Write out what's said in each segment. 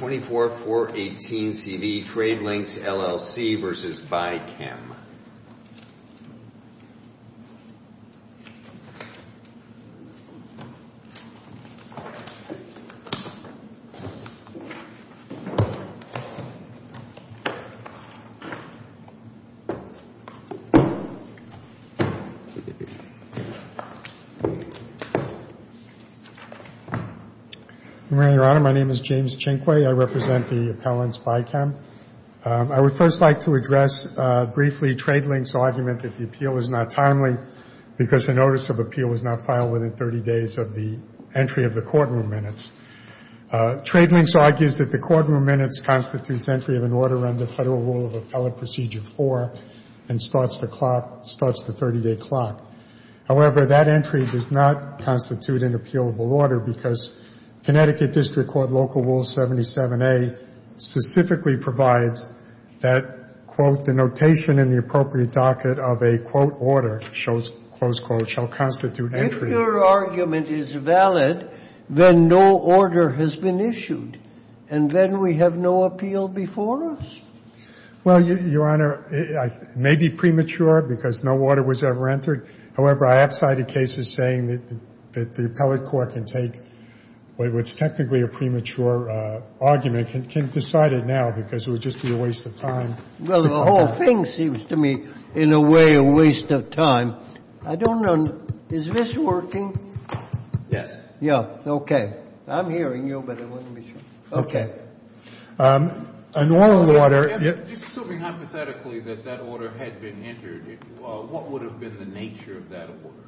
24-418-CV Trade Links, LLC v. BI-QEM. My name is James Chinquay. I represent the appellants BI-QEM. I would first like to address briefly Trade Links' argument that the appeal was not timely because the notice of appeal was not filed within 30 days of the entry of the courtroom minutes. Trade Links argues that the courtroom minutes constitutes entry of an order under Federal Rule of Appellate Procedure 4 and starts the clock, starts the 30-day clock. However, that entry does not constitute an appealable order because Connecticut District Court Local Rule 77a specifically provides that, quote, the notation in the appropriate docket of a, quote, order, close quote, shall constitute entry. If your argument is valid, then no order has been issued, and then we have no appeal before us. Well, Your Honor, it may be premature because no order was ever entered. However, I have cited cases saying that the appellate court can take what's technically a premature argument and can decide it now because it would just be a waste of time. Well, the whole thing seems to me in a way a waste of time. I don't know. Is this working? Yes. Yeah. Okay. I'm hearing you, but I want to be sure. Okay. A normal order — I'm just assuming hypothetically that that order had been entered. What would have been the nature of that order?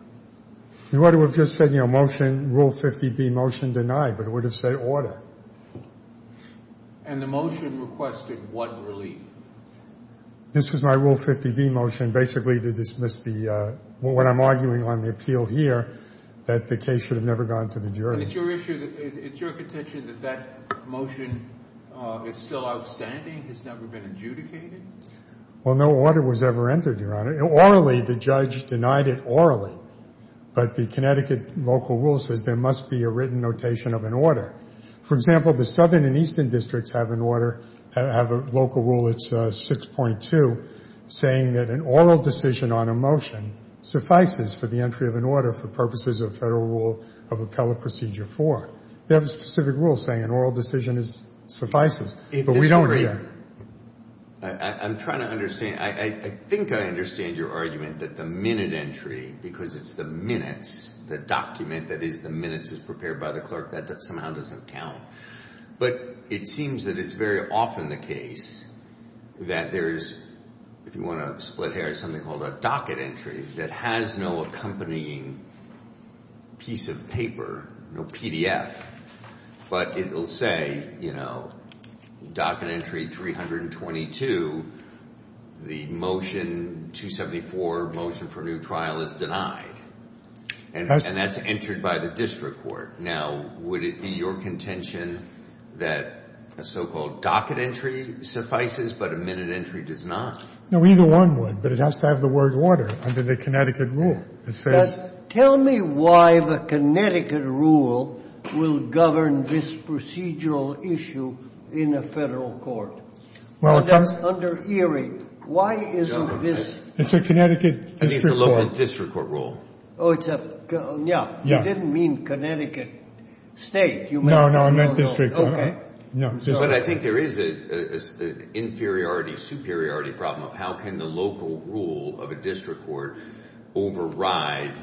The order would have just said, you know, motion, Rule 50B, motion denied, but it would have said order. And the motion requested what relief? This was my Rule 50B motion basically to dismiss the — what I'm arguing on the appeal here, that the case should have never gone to the jury. And it's your issue — it's your contention that that motion is still outstanding, has never been adjudicated? Well, no order was ever entered, Your Honor. Orally, the judge denied it orally. But the Connecticut local rule says there must be a written notation of an order. For example, the southern and eastern districts have an order — have a local rule, it's 6.2, saying that an oral decision on a motion suffices for the entry of an order for purposes of Federal Rule of Appellate Procedure 4. They have a specific rule saying an oral decision suffices. But we don't agree on that. I'm trying to understand — I think I understand your argument that the minute entry, because it's the minutes, the document that is the minutes is prepared by the clerk, that somehow doesn't count. But it seems that it's very often the case that there is — if you want to split hairs, something called a docket entry that has no accompanying piece of paper, no PDF, but it will say, you know, docket entry 322, the motion 274, motion for new trial, is denied. And that's entered by the district court. Now, would it be your contention that a so-called docket entry suffices, but a minute entry does not? No, either one would. But it has to have the word order under the Connecticut rule. It says — Tell me why the Connecticut rule will govern this procedural issue in a Federal court. Well, it comes — That's under Erie. Why isn't this — It's a Connecticut district court. I think it's a local district court rule. Oh, it's a — yeah. Yeah. I didn't mean Connecticut State. You meant — No, no, not district court. Okay. No. But I think there is an inferiority-superiority problem of how can the local rule of a district court override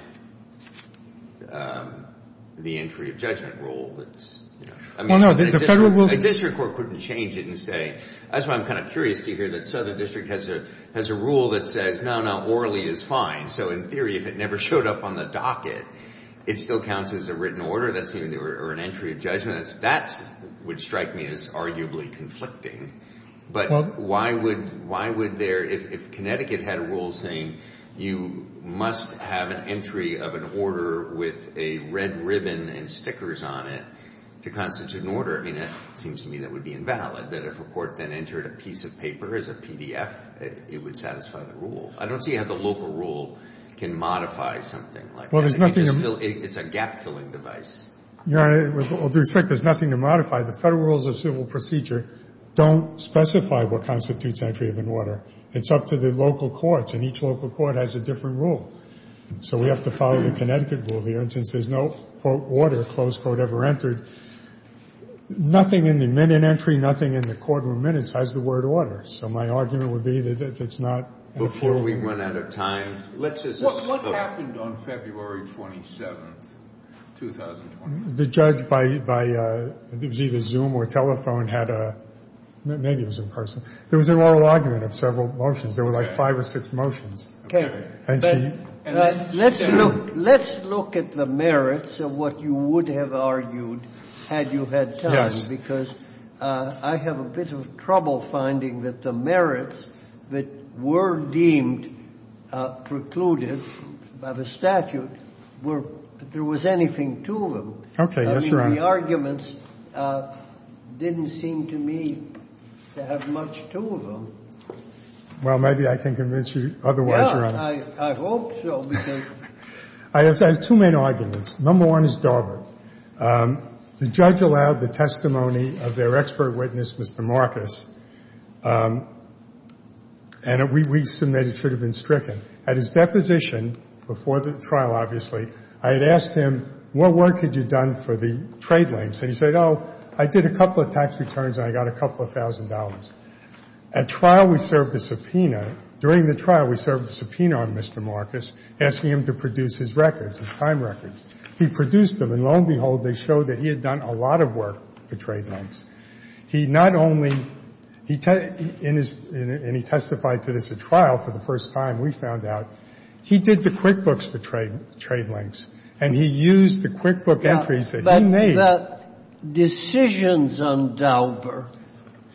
the entry of judgment rule that's — Well, no, the Federal rule — I mean, a district court couldn't change it and say — that's why I'm kind of curious to hear that Southern District has a rule that says, no, no, orally is fine. So in theory, if it never showed up on the docket, it still counts as a written order or an entry of judgment. That would strike me as arguably conflicting. Well — Why would there — if Connecticut had a rule saying you must have an entry of an order with a red ribbon and stickers on it to constitute an order, I mean, it seems to me that would be invalid, that if a court then entered a piece of paper as a PDF, it would satisfy the rule. I don't see how the local rule can modify something like that. Well, there's nothing — I mean, it's a gap-filling device. Your Honor, with all due respect, there's nothing to modify. The Federal Rules of Civil Procedure don't specify what constitutes entry of an order. It's up to the local courts, and each local court has a different rule. So we have to follow the Connecticut rule here. And since there's no, quote, order, close quote, ever entered, nothing in the minute entry, nothing in the courtroom minutes has the word order. So my argument would be that if it's not — Before we run out of time, let's just — What happened on February 27th, 2020? The judge by — it was either Zoom or telephone had a — maybe it was in person. There was an oral argument of several motions. There were like five or six motions. And she — Let's look at the merits of what you would have argued had you had time. Because I have a bit of trouble finding that the merits that were deemed precluded by the statute were — if there was anything to them. Yes, Your Honor. I mean, the arguments didn't seem to me to have much to them. Well, maybe I can convince you otherwise, Your Honor. Yeah. I hope so, because — I have two main arguments. Number one is Darbert. The judge allowed the testimony of their expert witness, Mr. Marcus, and we — we submit it should have been stricken. At his deposition, before the trial, obviously, I had asked him, what work had you done for the trade links? And he said, oh, I did a couple of tax returns and I got a couple of thousand dollars. At trial, we served a subpoena. During the trial, we served a subpoena on Mr. Marcus, asking him to produce his records, his time records. He produced them, and lo and behold, they showed that he had done a lot of work for trade links. He not only — he — in his — and he testified to this at trial for the first time, we found out, he did the QuickBooks for trade links, and he used the QuickBook entries that he made. But the decisions on Darbert,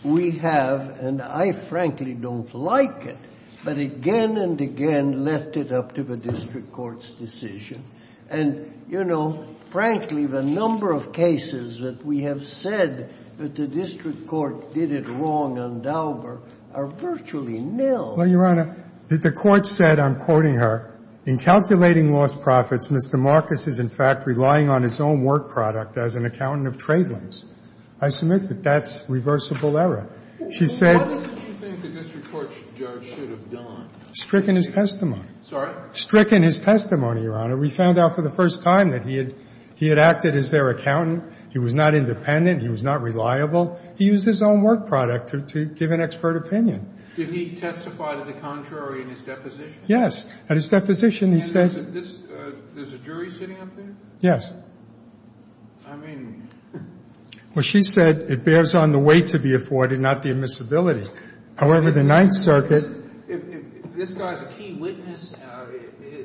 we have — and I, frankly, don't like it, but again and again left it up to the district court's decision. And, you know, frankly, the number of cases that we have said that the district court did it wrong on Darbert are virtually nil. Well, Your Honor, the court said, I'm quoting her, In calculating lost profits, Mr. Marcus is in fact relying on his own work product as an accountant of trade links. I submit that that's reversible error. She said — Why doesn't she think the district court judge should have done? Stricken his testimony. Sorry? Stricken his testimony, Your Honor. We found out for the first time that he had acted as their accountant. He was not independent. He was not reliable. He used his own work product to give an expert opinion. Did he testify to the contrary in his deposition? Yes. At his deposition, he said — And there's a jury sitting up there? Yes. I mean — Well, she said it bears on the weight to be afforded, not the admissibility. However, the Ninth Circuit — If this guy's a key witness,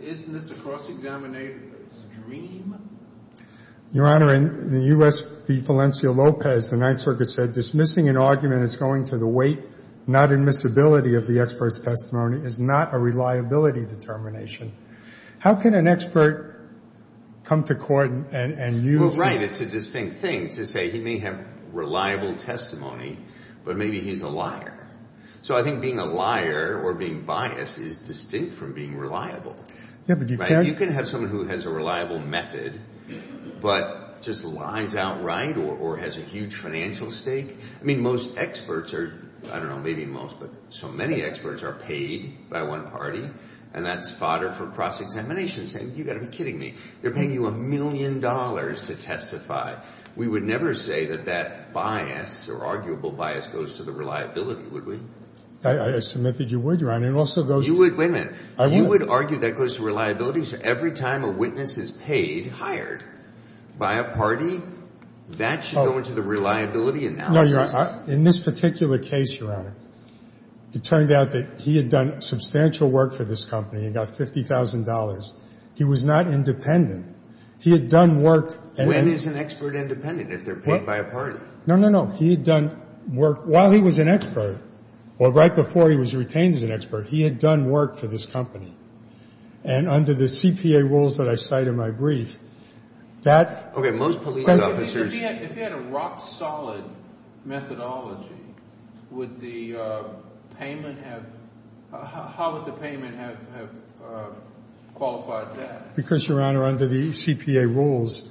isn't this a cross-examination stream? Your Honor, in the U.S. v. Valencia-Lopez, the Ninth Circuit said, Dismissing an argument as going to the weight, not admissibility, of the expert's testimony is not a reliability determination. How can an expert come to court and use — Well, right. It's a distinct thing to say he may have reliable testimony, but maybe he's a liar. So I think being a liar or being biased is distinct from being reliable. Right? You can have someone who has a reliable method, but just lies outright or has a huge financial stake. I mean, most experts are — I don't know, maybe most, but so many experts are paid by one party, and that's fodder for cross-examination, saying, You've got to be kidding me. They're paying you a million dollars to testify. We would never say that that bias or arguable bias goes to the reliability, would we? I submit that you would, Your Honor. It also goes to — Wait a minute. You would argue that goes to reliability? So every time a witness is paid, hired by a party, that should go into the reliability analysis? No, Your Honor. In this particular case, Your Honor, it turned out that he had done substantial work for this company and got $50,000. He was not independent. He had done work — When is an expert independent, if they're paid by a party? No, no, no. He had done work while he was an expert, or right before he was retained as an expert. He had done work for this company. And under the CPA rules that I cite in my brief, that — Okay. Most police officers — If he had a rock-solid methodology, would the payment have — how would the payment have qualified that? Because, Your Honor, under the CPA rules,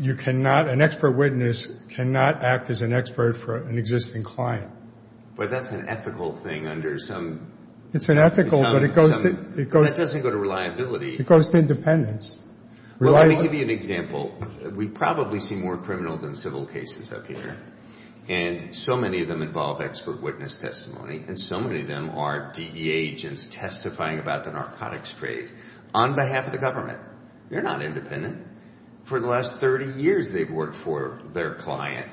you cannot — an expert witness cannot act as an expert for an existing client. But that's an ethical thing under some — It's unethical, but it goes to — But that doesn't go to reliability. It goes to independence. Well, let me give you an example. We probably see more criminal than civil cases up here, and so many of them involve expert witness testimony, and so many of them are DEA agents testifying about the narcotics trade. On behalf of the government, they're not independent. For the last 30 years, they've worked for their client.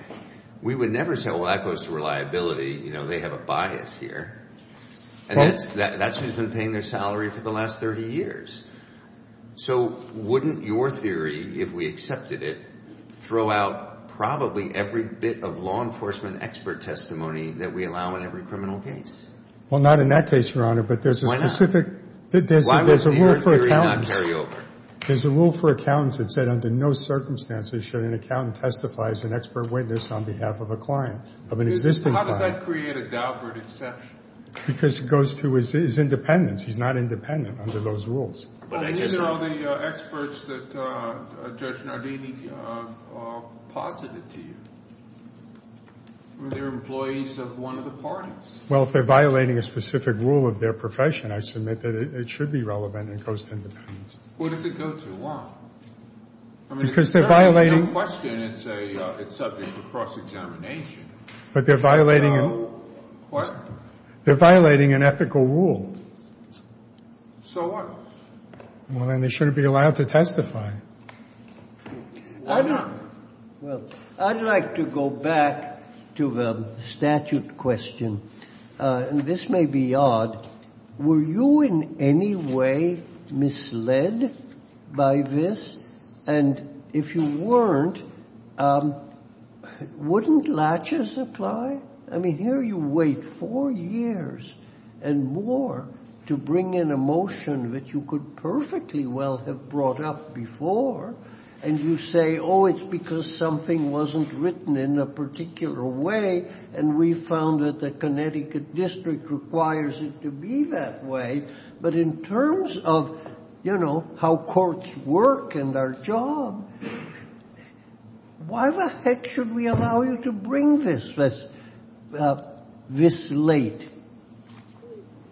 We would never say, well, that goes to reliability. You know, they have a bias here. And that's who's been paying their salary for the last 30 years. So wouldn't your theory, if we accepted it, throw out probably every bit of law enforcement expert testimony that we allow in every criminal case? Well, not in that case, Your Honor, but there's a specific — Why would your theory not carry over? There's a rule for accountants that said under no circumstances should an accountant testify as an expert witness on behalf of a client, of an existing client. How does that create a Daubert exception? Because it goes to his independence. He's not independent under those rules. But these are all the experts that Judge Nardini posited to you. They're employees of one of the parties. Well, if they're violating a specific rule of their profession, I submit that it should be relevant and goes to independence. Well, does it go to law? Because they're violating — I mean, it's not a question. It's a — it's subject to cross-examination. But they're violating an — What? They're violating an ethical rule. So what? Well, then they shouldn't be allowed to testify. Well, I'd like to go back to the statute question. And this may be odd. Were you in any way misled by this? And if you weren't, wouldn't latches apply? I mean, here you wait four years and more to bring in a motion that you could perfectly well have brought up before. And you say, oh, it's because something wasn't written in a particular way. And we found that the Connecticut district requires it to be that way. But in terms of, you know, how courts work and our job, why the heck should we allow you to bring this this late?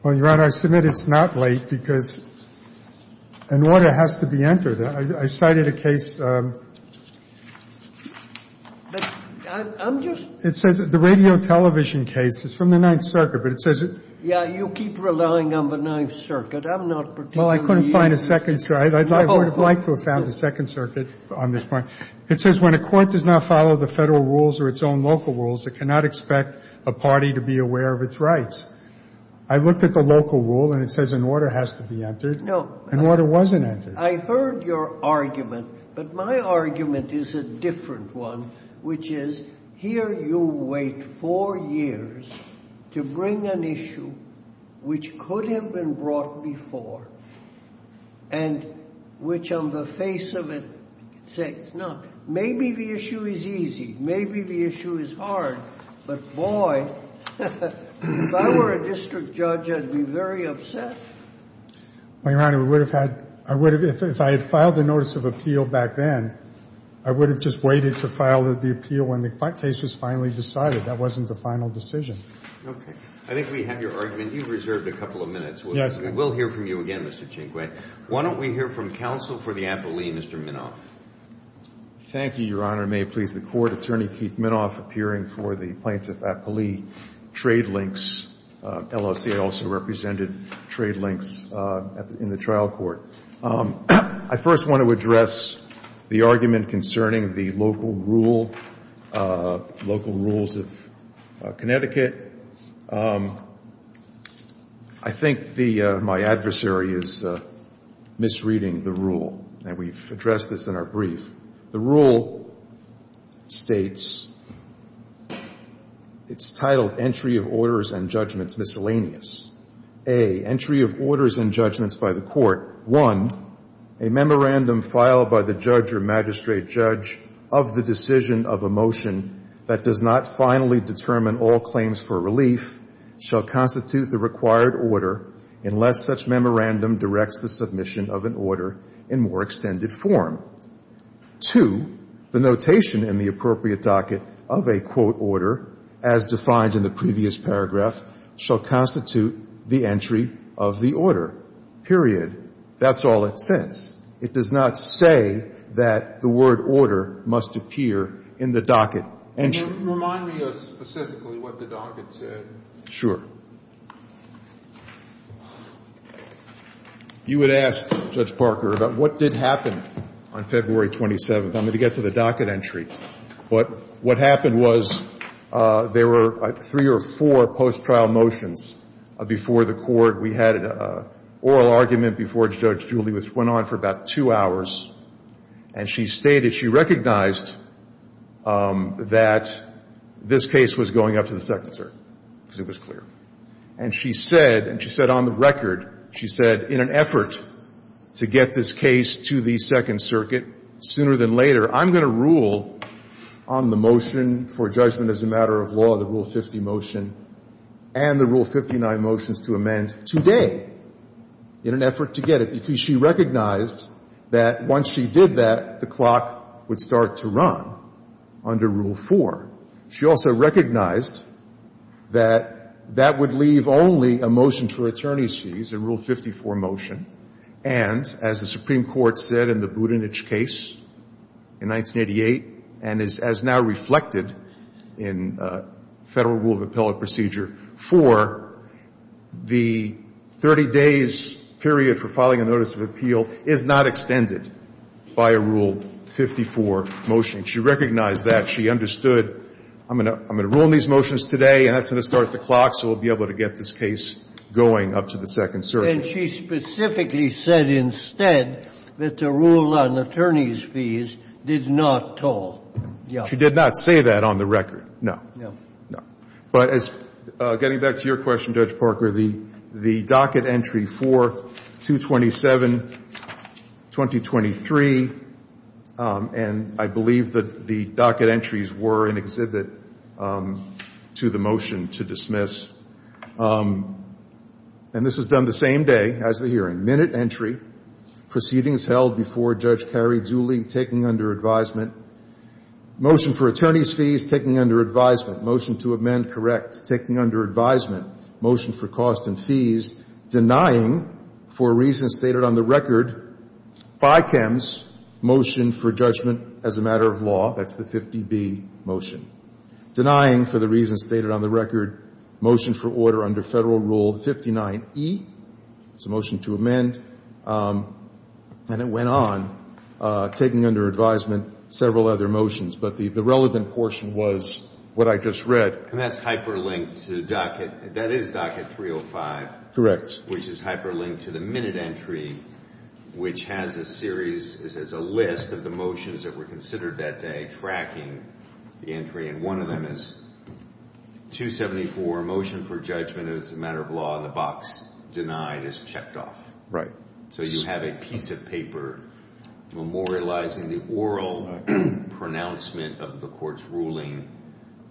Well, Your Honor, I submit it's not late because an order has to be entered. I cited a case. I'm just — It says the radio television case. It's from the Ninth Circuit. But it says — Yeah, you keep relying on the Ninth Circuit. I'm not particularly — Well, I couldn't find a second — I would have liked to have found a second circuit on this point. It says when a court does not follow the Federal rules or its own local rules, it cannot expect a party to be aware of its rights. I looked at the local rule, and it says an order has to be entered. No. An order wasn't entered. I heard your argument, but my argument is a different one, which is here you wait four years to bring an issue which could have been brought before and which, on the face of it, say it's not. Maybe the issue is easy. Maybe the issue is hard. But, boy, if I were a district judge, I'd be very upset. Well, Your Honor, we would have had — I would have — if I had filed a notice of appeal back then, I would have just waited to file the appeal when the case was finally decided. That wasn't the final decision. Okay. I think we have your argument. You've reserved a couple of minutes. Yes. We will hear from you again, Mr. Chinguay. Why don't we hear from counsel for the appellee, Mr. Minoff? Thank you, Your Honor. May it please the Court. Thank you, Your Honor. Attorney Keith Minoff appearing for the plaintiff appellee. Trade links. LOCA also represented trade links in the trial court. I first want to address the argument concerning the local rule, local rules of Connecticut. I think my adversary is misreading the rule, and we've addressed this in our brief. The rule states — it's titled, Entry of Orders and Judgments Miscellaneous. A, entry of orders and judgments by the court. One, a memorandum filed by the judge or magistrate judge of the decision of a motion that does not finally determine all claims for relief shall constitute the required order unless such memorandum directs the submission of an order in more extended form. Two, the notation in the appropriate docket of a quote order as defined in the previous paragraph shall constitute the entry of the order, period. That's all it says. It does not say that the word order must appear in the docket entry. Can you remind me of specifically what the docket said? Sure. You would ask Judge Parker about what did happen on February 27th. I'm going to get to the docket entry. What happened was there were three or four post-trial motions before the court. We had an oral argument before Judge Julie, which went on for about two hours. And she stated she recognized that this case was going up to the Second Circuit because it was clear. And she said, and she said on the record, she said in an effort to get this case to the Second Circuit sooner than later, I'm going to rule on the motion for judgment as a matter of law, the Rule 50 motion, and the Rule 59 motions to amend today in an effort to get it. Because she recognized that once she did that, the clock would start to run under Rule 4. She also recognized that that would leave only a motion for attorney's fees in Rule 54 motion. And as the Supreme Court said in the Budenich case in 1988, and as now reflected in Federal Rule of Appellate Procedure 4, the 30 days period for filing a notice of appeal is not extended by a Rule 54 motion. And she recognized that. She understood, I'm going to rule on these motions today, and that's going to start the clock so we'll be able to get this case going up to the Second Circuit. And she specifically said instead that the rule on attorney's fees did not toll. She did not say that on the record, no. No. No. But as, getting back to your question, Judge Parker, the docket entry for 227-2023, and I believe that the docket entries were an exhibit to the motion to dismiss. And this was done the same day as the hearing. Minute entry. Proceedings held before Judge Carrie Dooley, taking under advisement. Motion for attorney's fees, taking under advisement. Motion to amend, correct. Taking under advisement. Motion for cost and fees. Denying, for reasons stated on the record by Kemps, motion for judgment as a matter of law. That's the 50B motion. Denying, for the reasons stated on the record, motion for order under Federal Rule 59E. It's a motion to amend. And it went on, taking under advisement several other motions. But the relevant portion was what I just read. And that's hyperlinked to the docket. That is docket 305. Correct. Which is hyperlinked to the minute entry, which has a series, a list of the motions that were considered that day, tracking the entry. And one of them is 274, motion for judgment as a matter of law, and the box denied is checked off. Right. So you have a piece of paper memorializing the oral pronouncement of the Court's ruling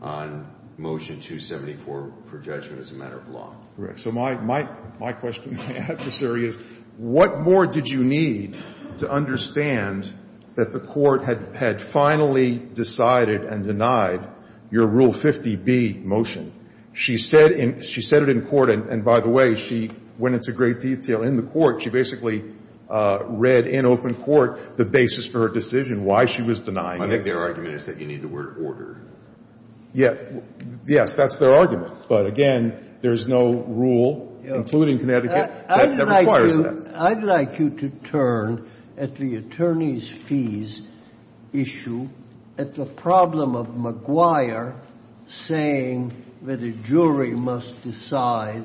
on motion 274 for judgment as a matter of law. Correct. So my question to my adversary is, what more did you need to understand that the Court had finally decided and denied your Rule 50B motion? She said it in court. And, by the way, she went into great detail in the court. She basically read in open court the basis for her decision, why she was denying it. I think their argument is that you need the word ordered. Yes. That's their argument. But, again, there is no rule, including Connecticut, that requires that. I'd like you to turn at the attorney's fees issue at the problem of McGuire saying that a jury must decide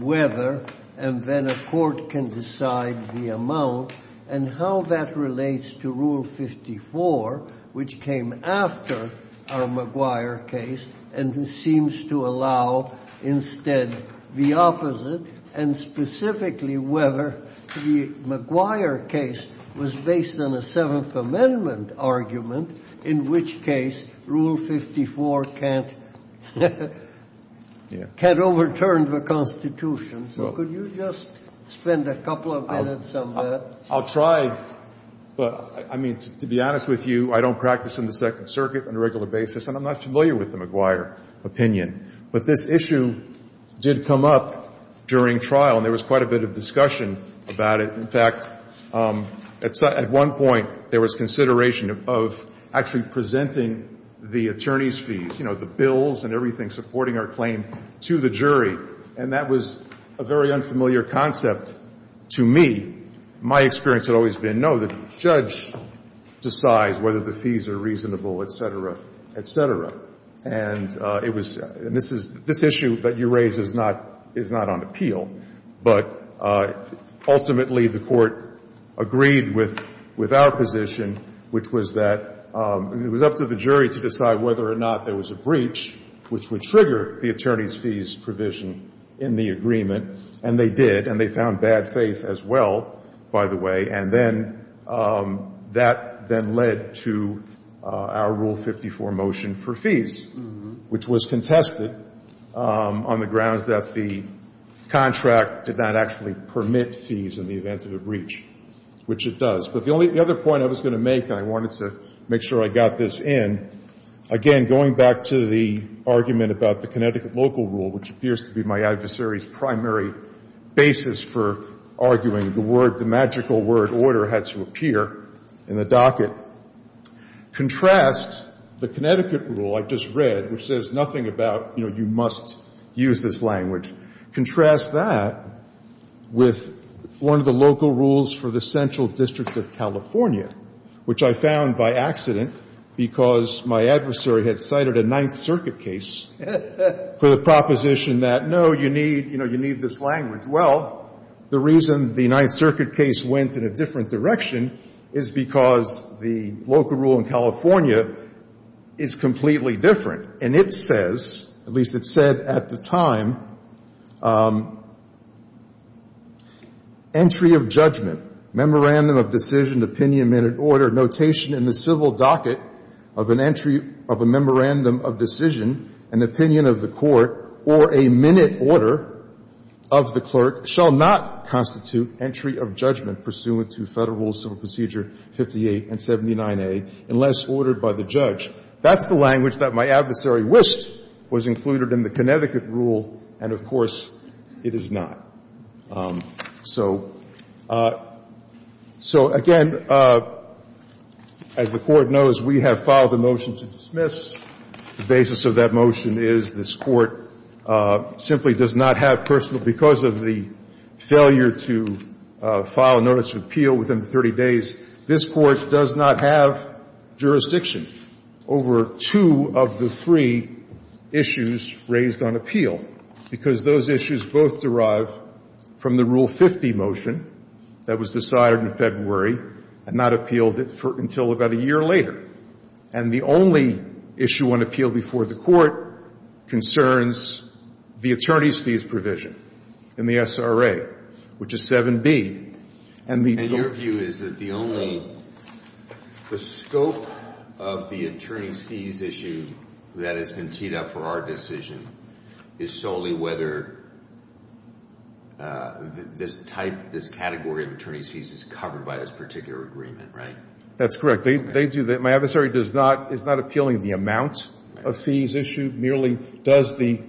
whether and then a court can decide the amount and how that relates to Rule 54, which came after our McGuire case and who seems to allow instead the opposite, and specifically whether the McGuire case was based on a Seventh Amendment argument, in which case Rule 54 can't overturn the Constitution. So could you just spend a couple of minutes on that? I'll try. But, I mean, to be honest with you, I don't practice in the Second Circuit on a regular basis, and I'm not familiar with the McGuire opinion. But this issue did come up during trial, and there was quite a bit of discussion about it. In fact, at one point, there was consideration of actually presenting the attorney's fees, you know, the bills and everything supporting our claim to the jury. And that was a very unfamiliar concept to me. My experience had always been, no, the judge decides whether the fees are reasonable, et cetera, et cetera. And this issue that you raise is not on appeal. But ultimately, the Court agreed with our position, which was that it was up to the jury to decide whether or not there was a breach, which would trigger the attorney's fees provision in the agreement. And they did. And they found bad faith as well, by the way. And then that then led to our Rule 54 motion for fees, which was contested on the grounds that the contract did not actually permit fees in the event of a breach, which it does. But the only other point I was going to make, and I wanted to make sure I got this in, again, going back to the argument about the Connecticut local rule, which appears to be my adversary's primary basis for arguing the word, the magical word, order, had to appear in the docket, contrast the Connecticut rule I just read, which says nothing about, you know, you must use this language, contrast that with one of the local rules for the Central District of California, which I found by accident because my adversary had cited a Ninth Circuit case for the proposition that, no, you need this language. Well, the reason the Ninth Circuit case went in a different direction is because the local rule in California is completely different. And it says, at least it said at the time, entry of judgment, memorandum of decision, opinion, minute, order, notation in the civil docket of an entry of a memorandum of decision, an opinion of the court, or a minute order of the clerk shall not constitute entry of judgment pursuant to Federal Rules of Procedure 58 and 79a unless ordered by the judge. That's the language that my adversary wished was included in the Connecticut rule, and, of course, it is not. So, again, as the Court knows, we have filed a motion to dismiss. The basis of that motion is this Court simply does not have personal, because of the failure to file a notice of appeal within 30 days, this Court does not have jurisdiction over two of the three issues raised on appeal, because those issues both derive from the Rule 50 motion that was decided in February and not appealed until about a year later. And the only issue on appeal before the Court concerns the attorney's fees provision in the SRA, which is 7b. And the only ---- And your view is that the only ---- the scope of the attorney's fees issue that has been teed up for our decision is solely whether this type, this category of attorney's fees is covered by this particular agreement, right? That's correct. They do that. My adversary does not ---- is not appealing the amount of fees issued. Merely does the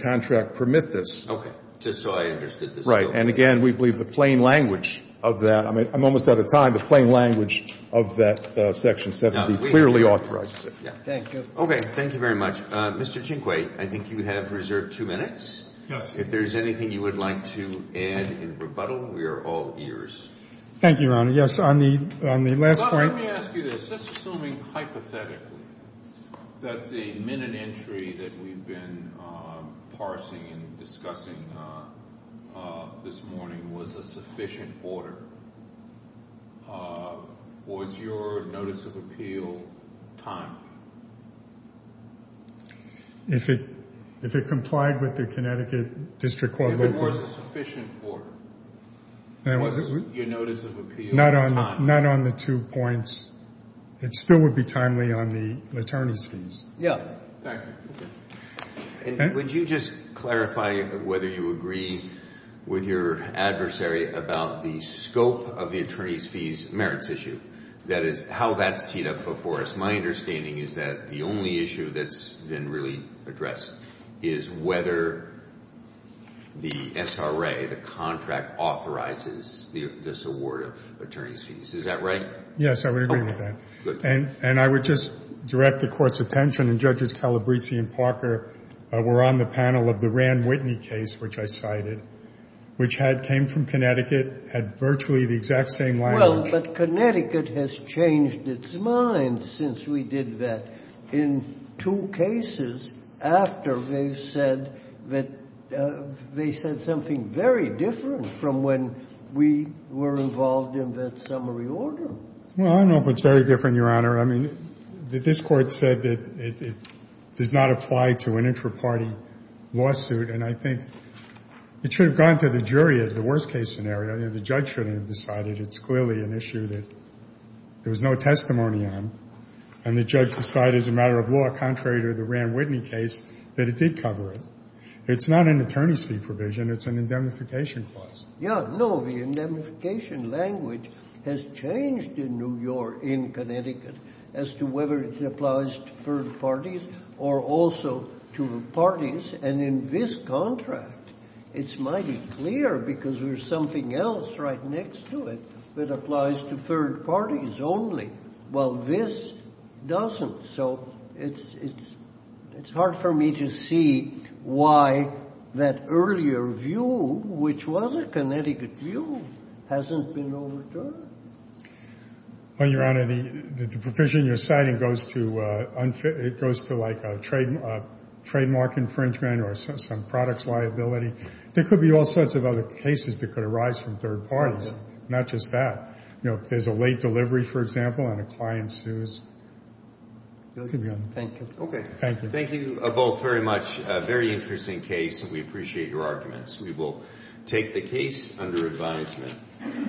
contract permit this. Okay. Just so I understood the scope. Right. And, again, we believe the plain language of that ---- I'm almost out of time. The plain language of that section 7b clearly authorizes it. Thank you. Okay. Thank you very much. Mr. Chinquay, I think you have reserved two minutes. Yes. If there's anything you would like to add in rebuttal, we are all ears. Thank you, Your Honor. Yes, on the last point ---- Let me ask you this. Just assuming hypothetically that the minute entry that we've been parsing and discussing this morning was a sufficient order, was your notice of appeal timely? If it complied with the Connecticut District Court ---- If it was a sufficient order, was your notice of appeal timely? Not on the two points. It still would be timely on the attorney's fees. Yes. Thank you. And would you just clarify whether you agree with your adversary about the scope of the attorney's fees merits issue? That is, how that's teed up before us. My understanding is that the only issue that's been really addressed is whether the SRA, the contract, authorizes this award of attorney's fees. Is that right? Yes, I would agree with that. Okay. Good. And I would just direct the Court's attention, and Judges Calabresi and Parker were on the panel of the Rand Whitney case, which I cited, which had ---- came from Connecticut, had virtually the exact same language. Well, but Connecticut has changed its mind since we did that in two cases after they've said that they said something very different from when we were involved in that summary order. Well, I don't know if it's very different, Your Honor. I mean, this Court said that it does not apply to an intraparty lawsuit. And I think it should have gone to the jury in the worst-case scenario. The judge shouldn't have decided. It's clearly an issue that there was no testimony on. And the judge decided as a matter of law, contrary to the Rand Whitney case, that it did cover it. It's not an attorney's fee provision. It's an indemnification clause. Yeah, no, the indemnification language has changed in New York, in Connecticut, as to whether it applies to third parties or also to parties. And in this contract, it's mighty clear, because there's something else right next to it that applies to third parties only. Well, this doesn't. So it's hard for me to see why that earlier view, which was a Connecticut view, hasn't been overturned. Well, Your Honor, the provision you're citing goes to like a trademark infringement or some products liability. There could be all sorts of other cases that could arise from third parties, not just that. There's a late delivery, for example, and a client sues. Thank you. Okay. Thank you. Thank you both very much. Very interesting case, and we appreciate your arguments. We will take the case under advisement.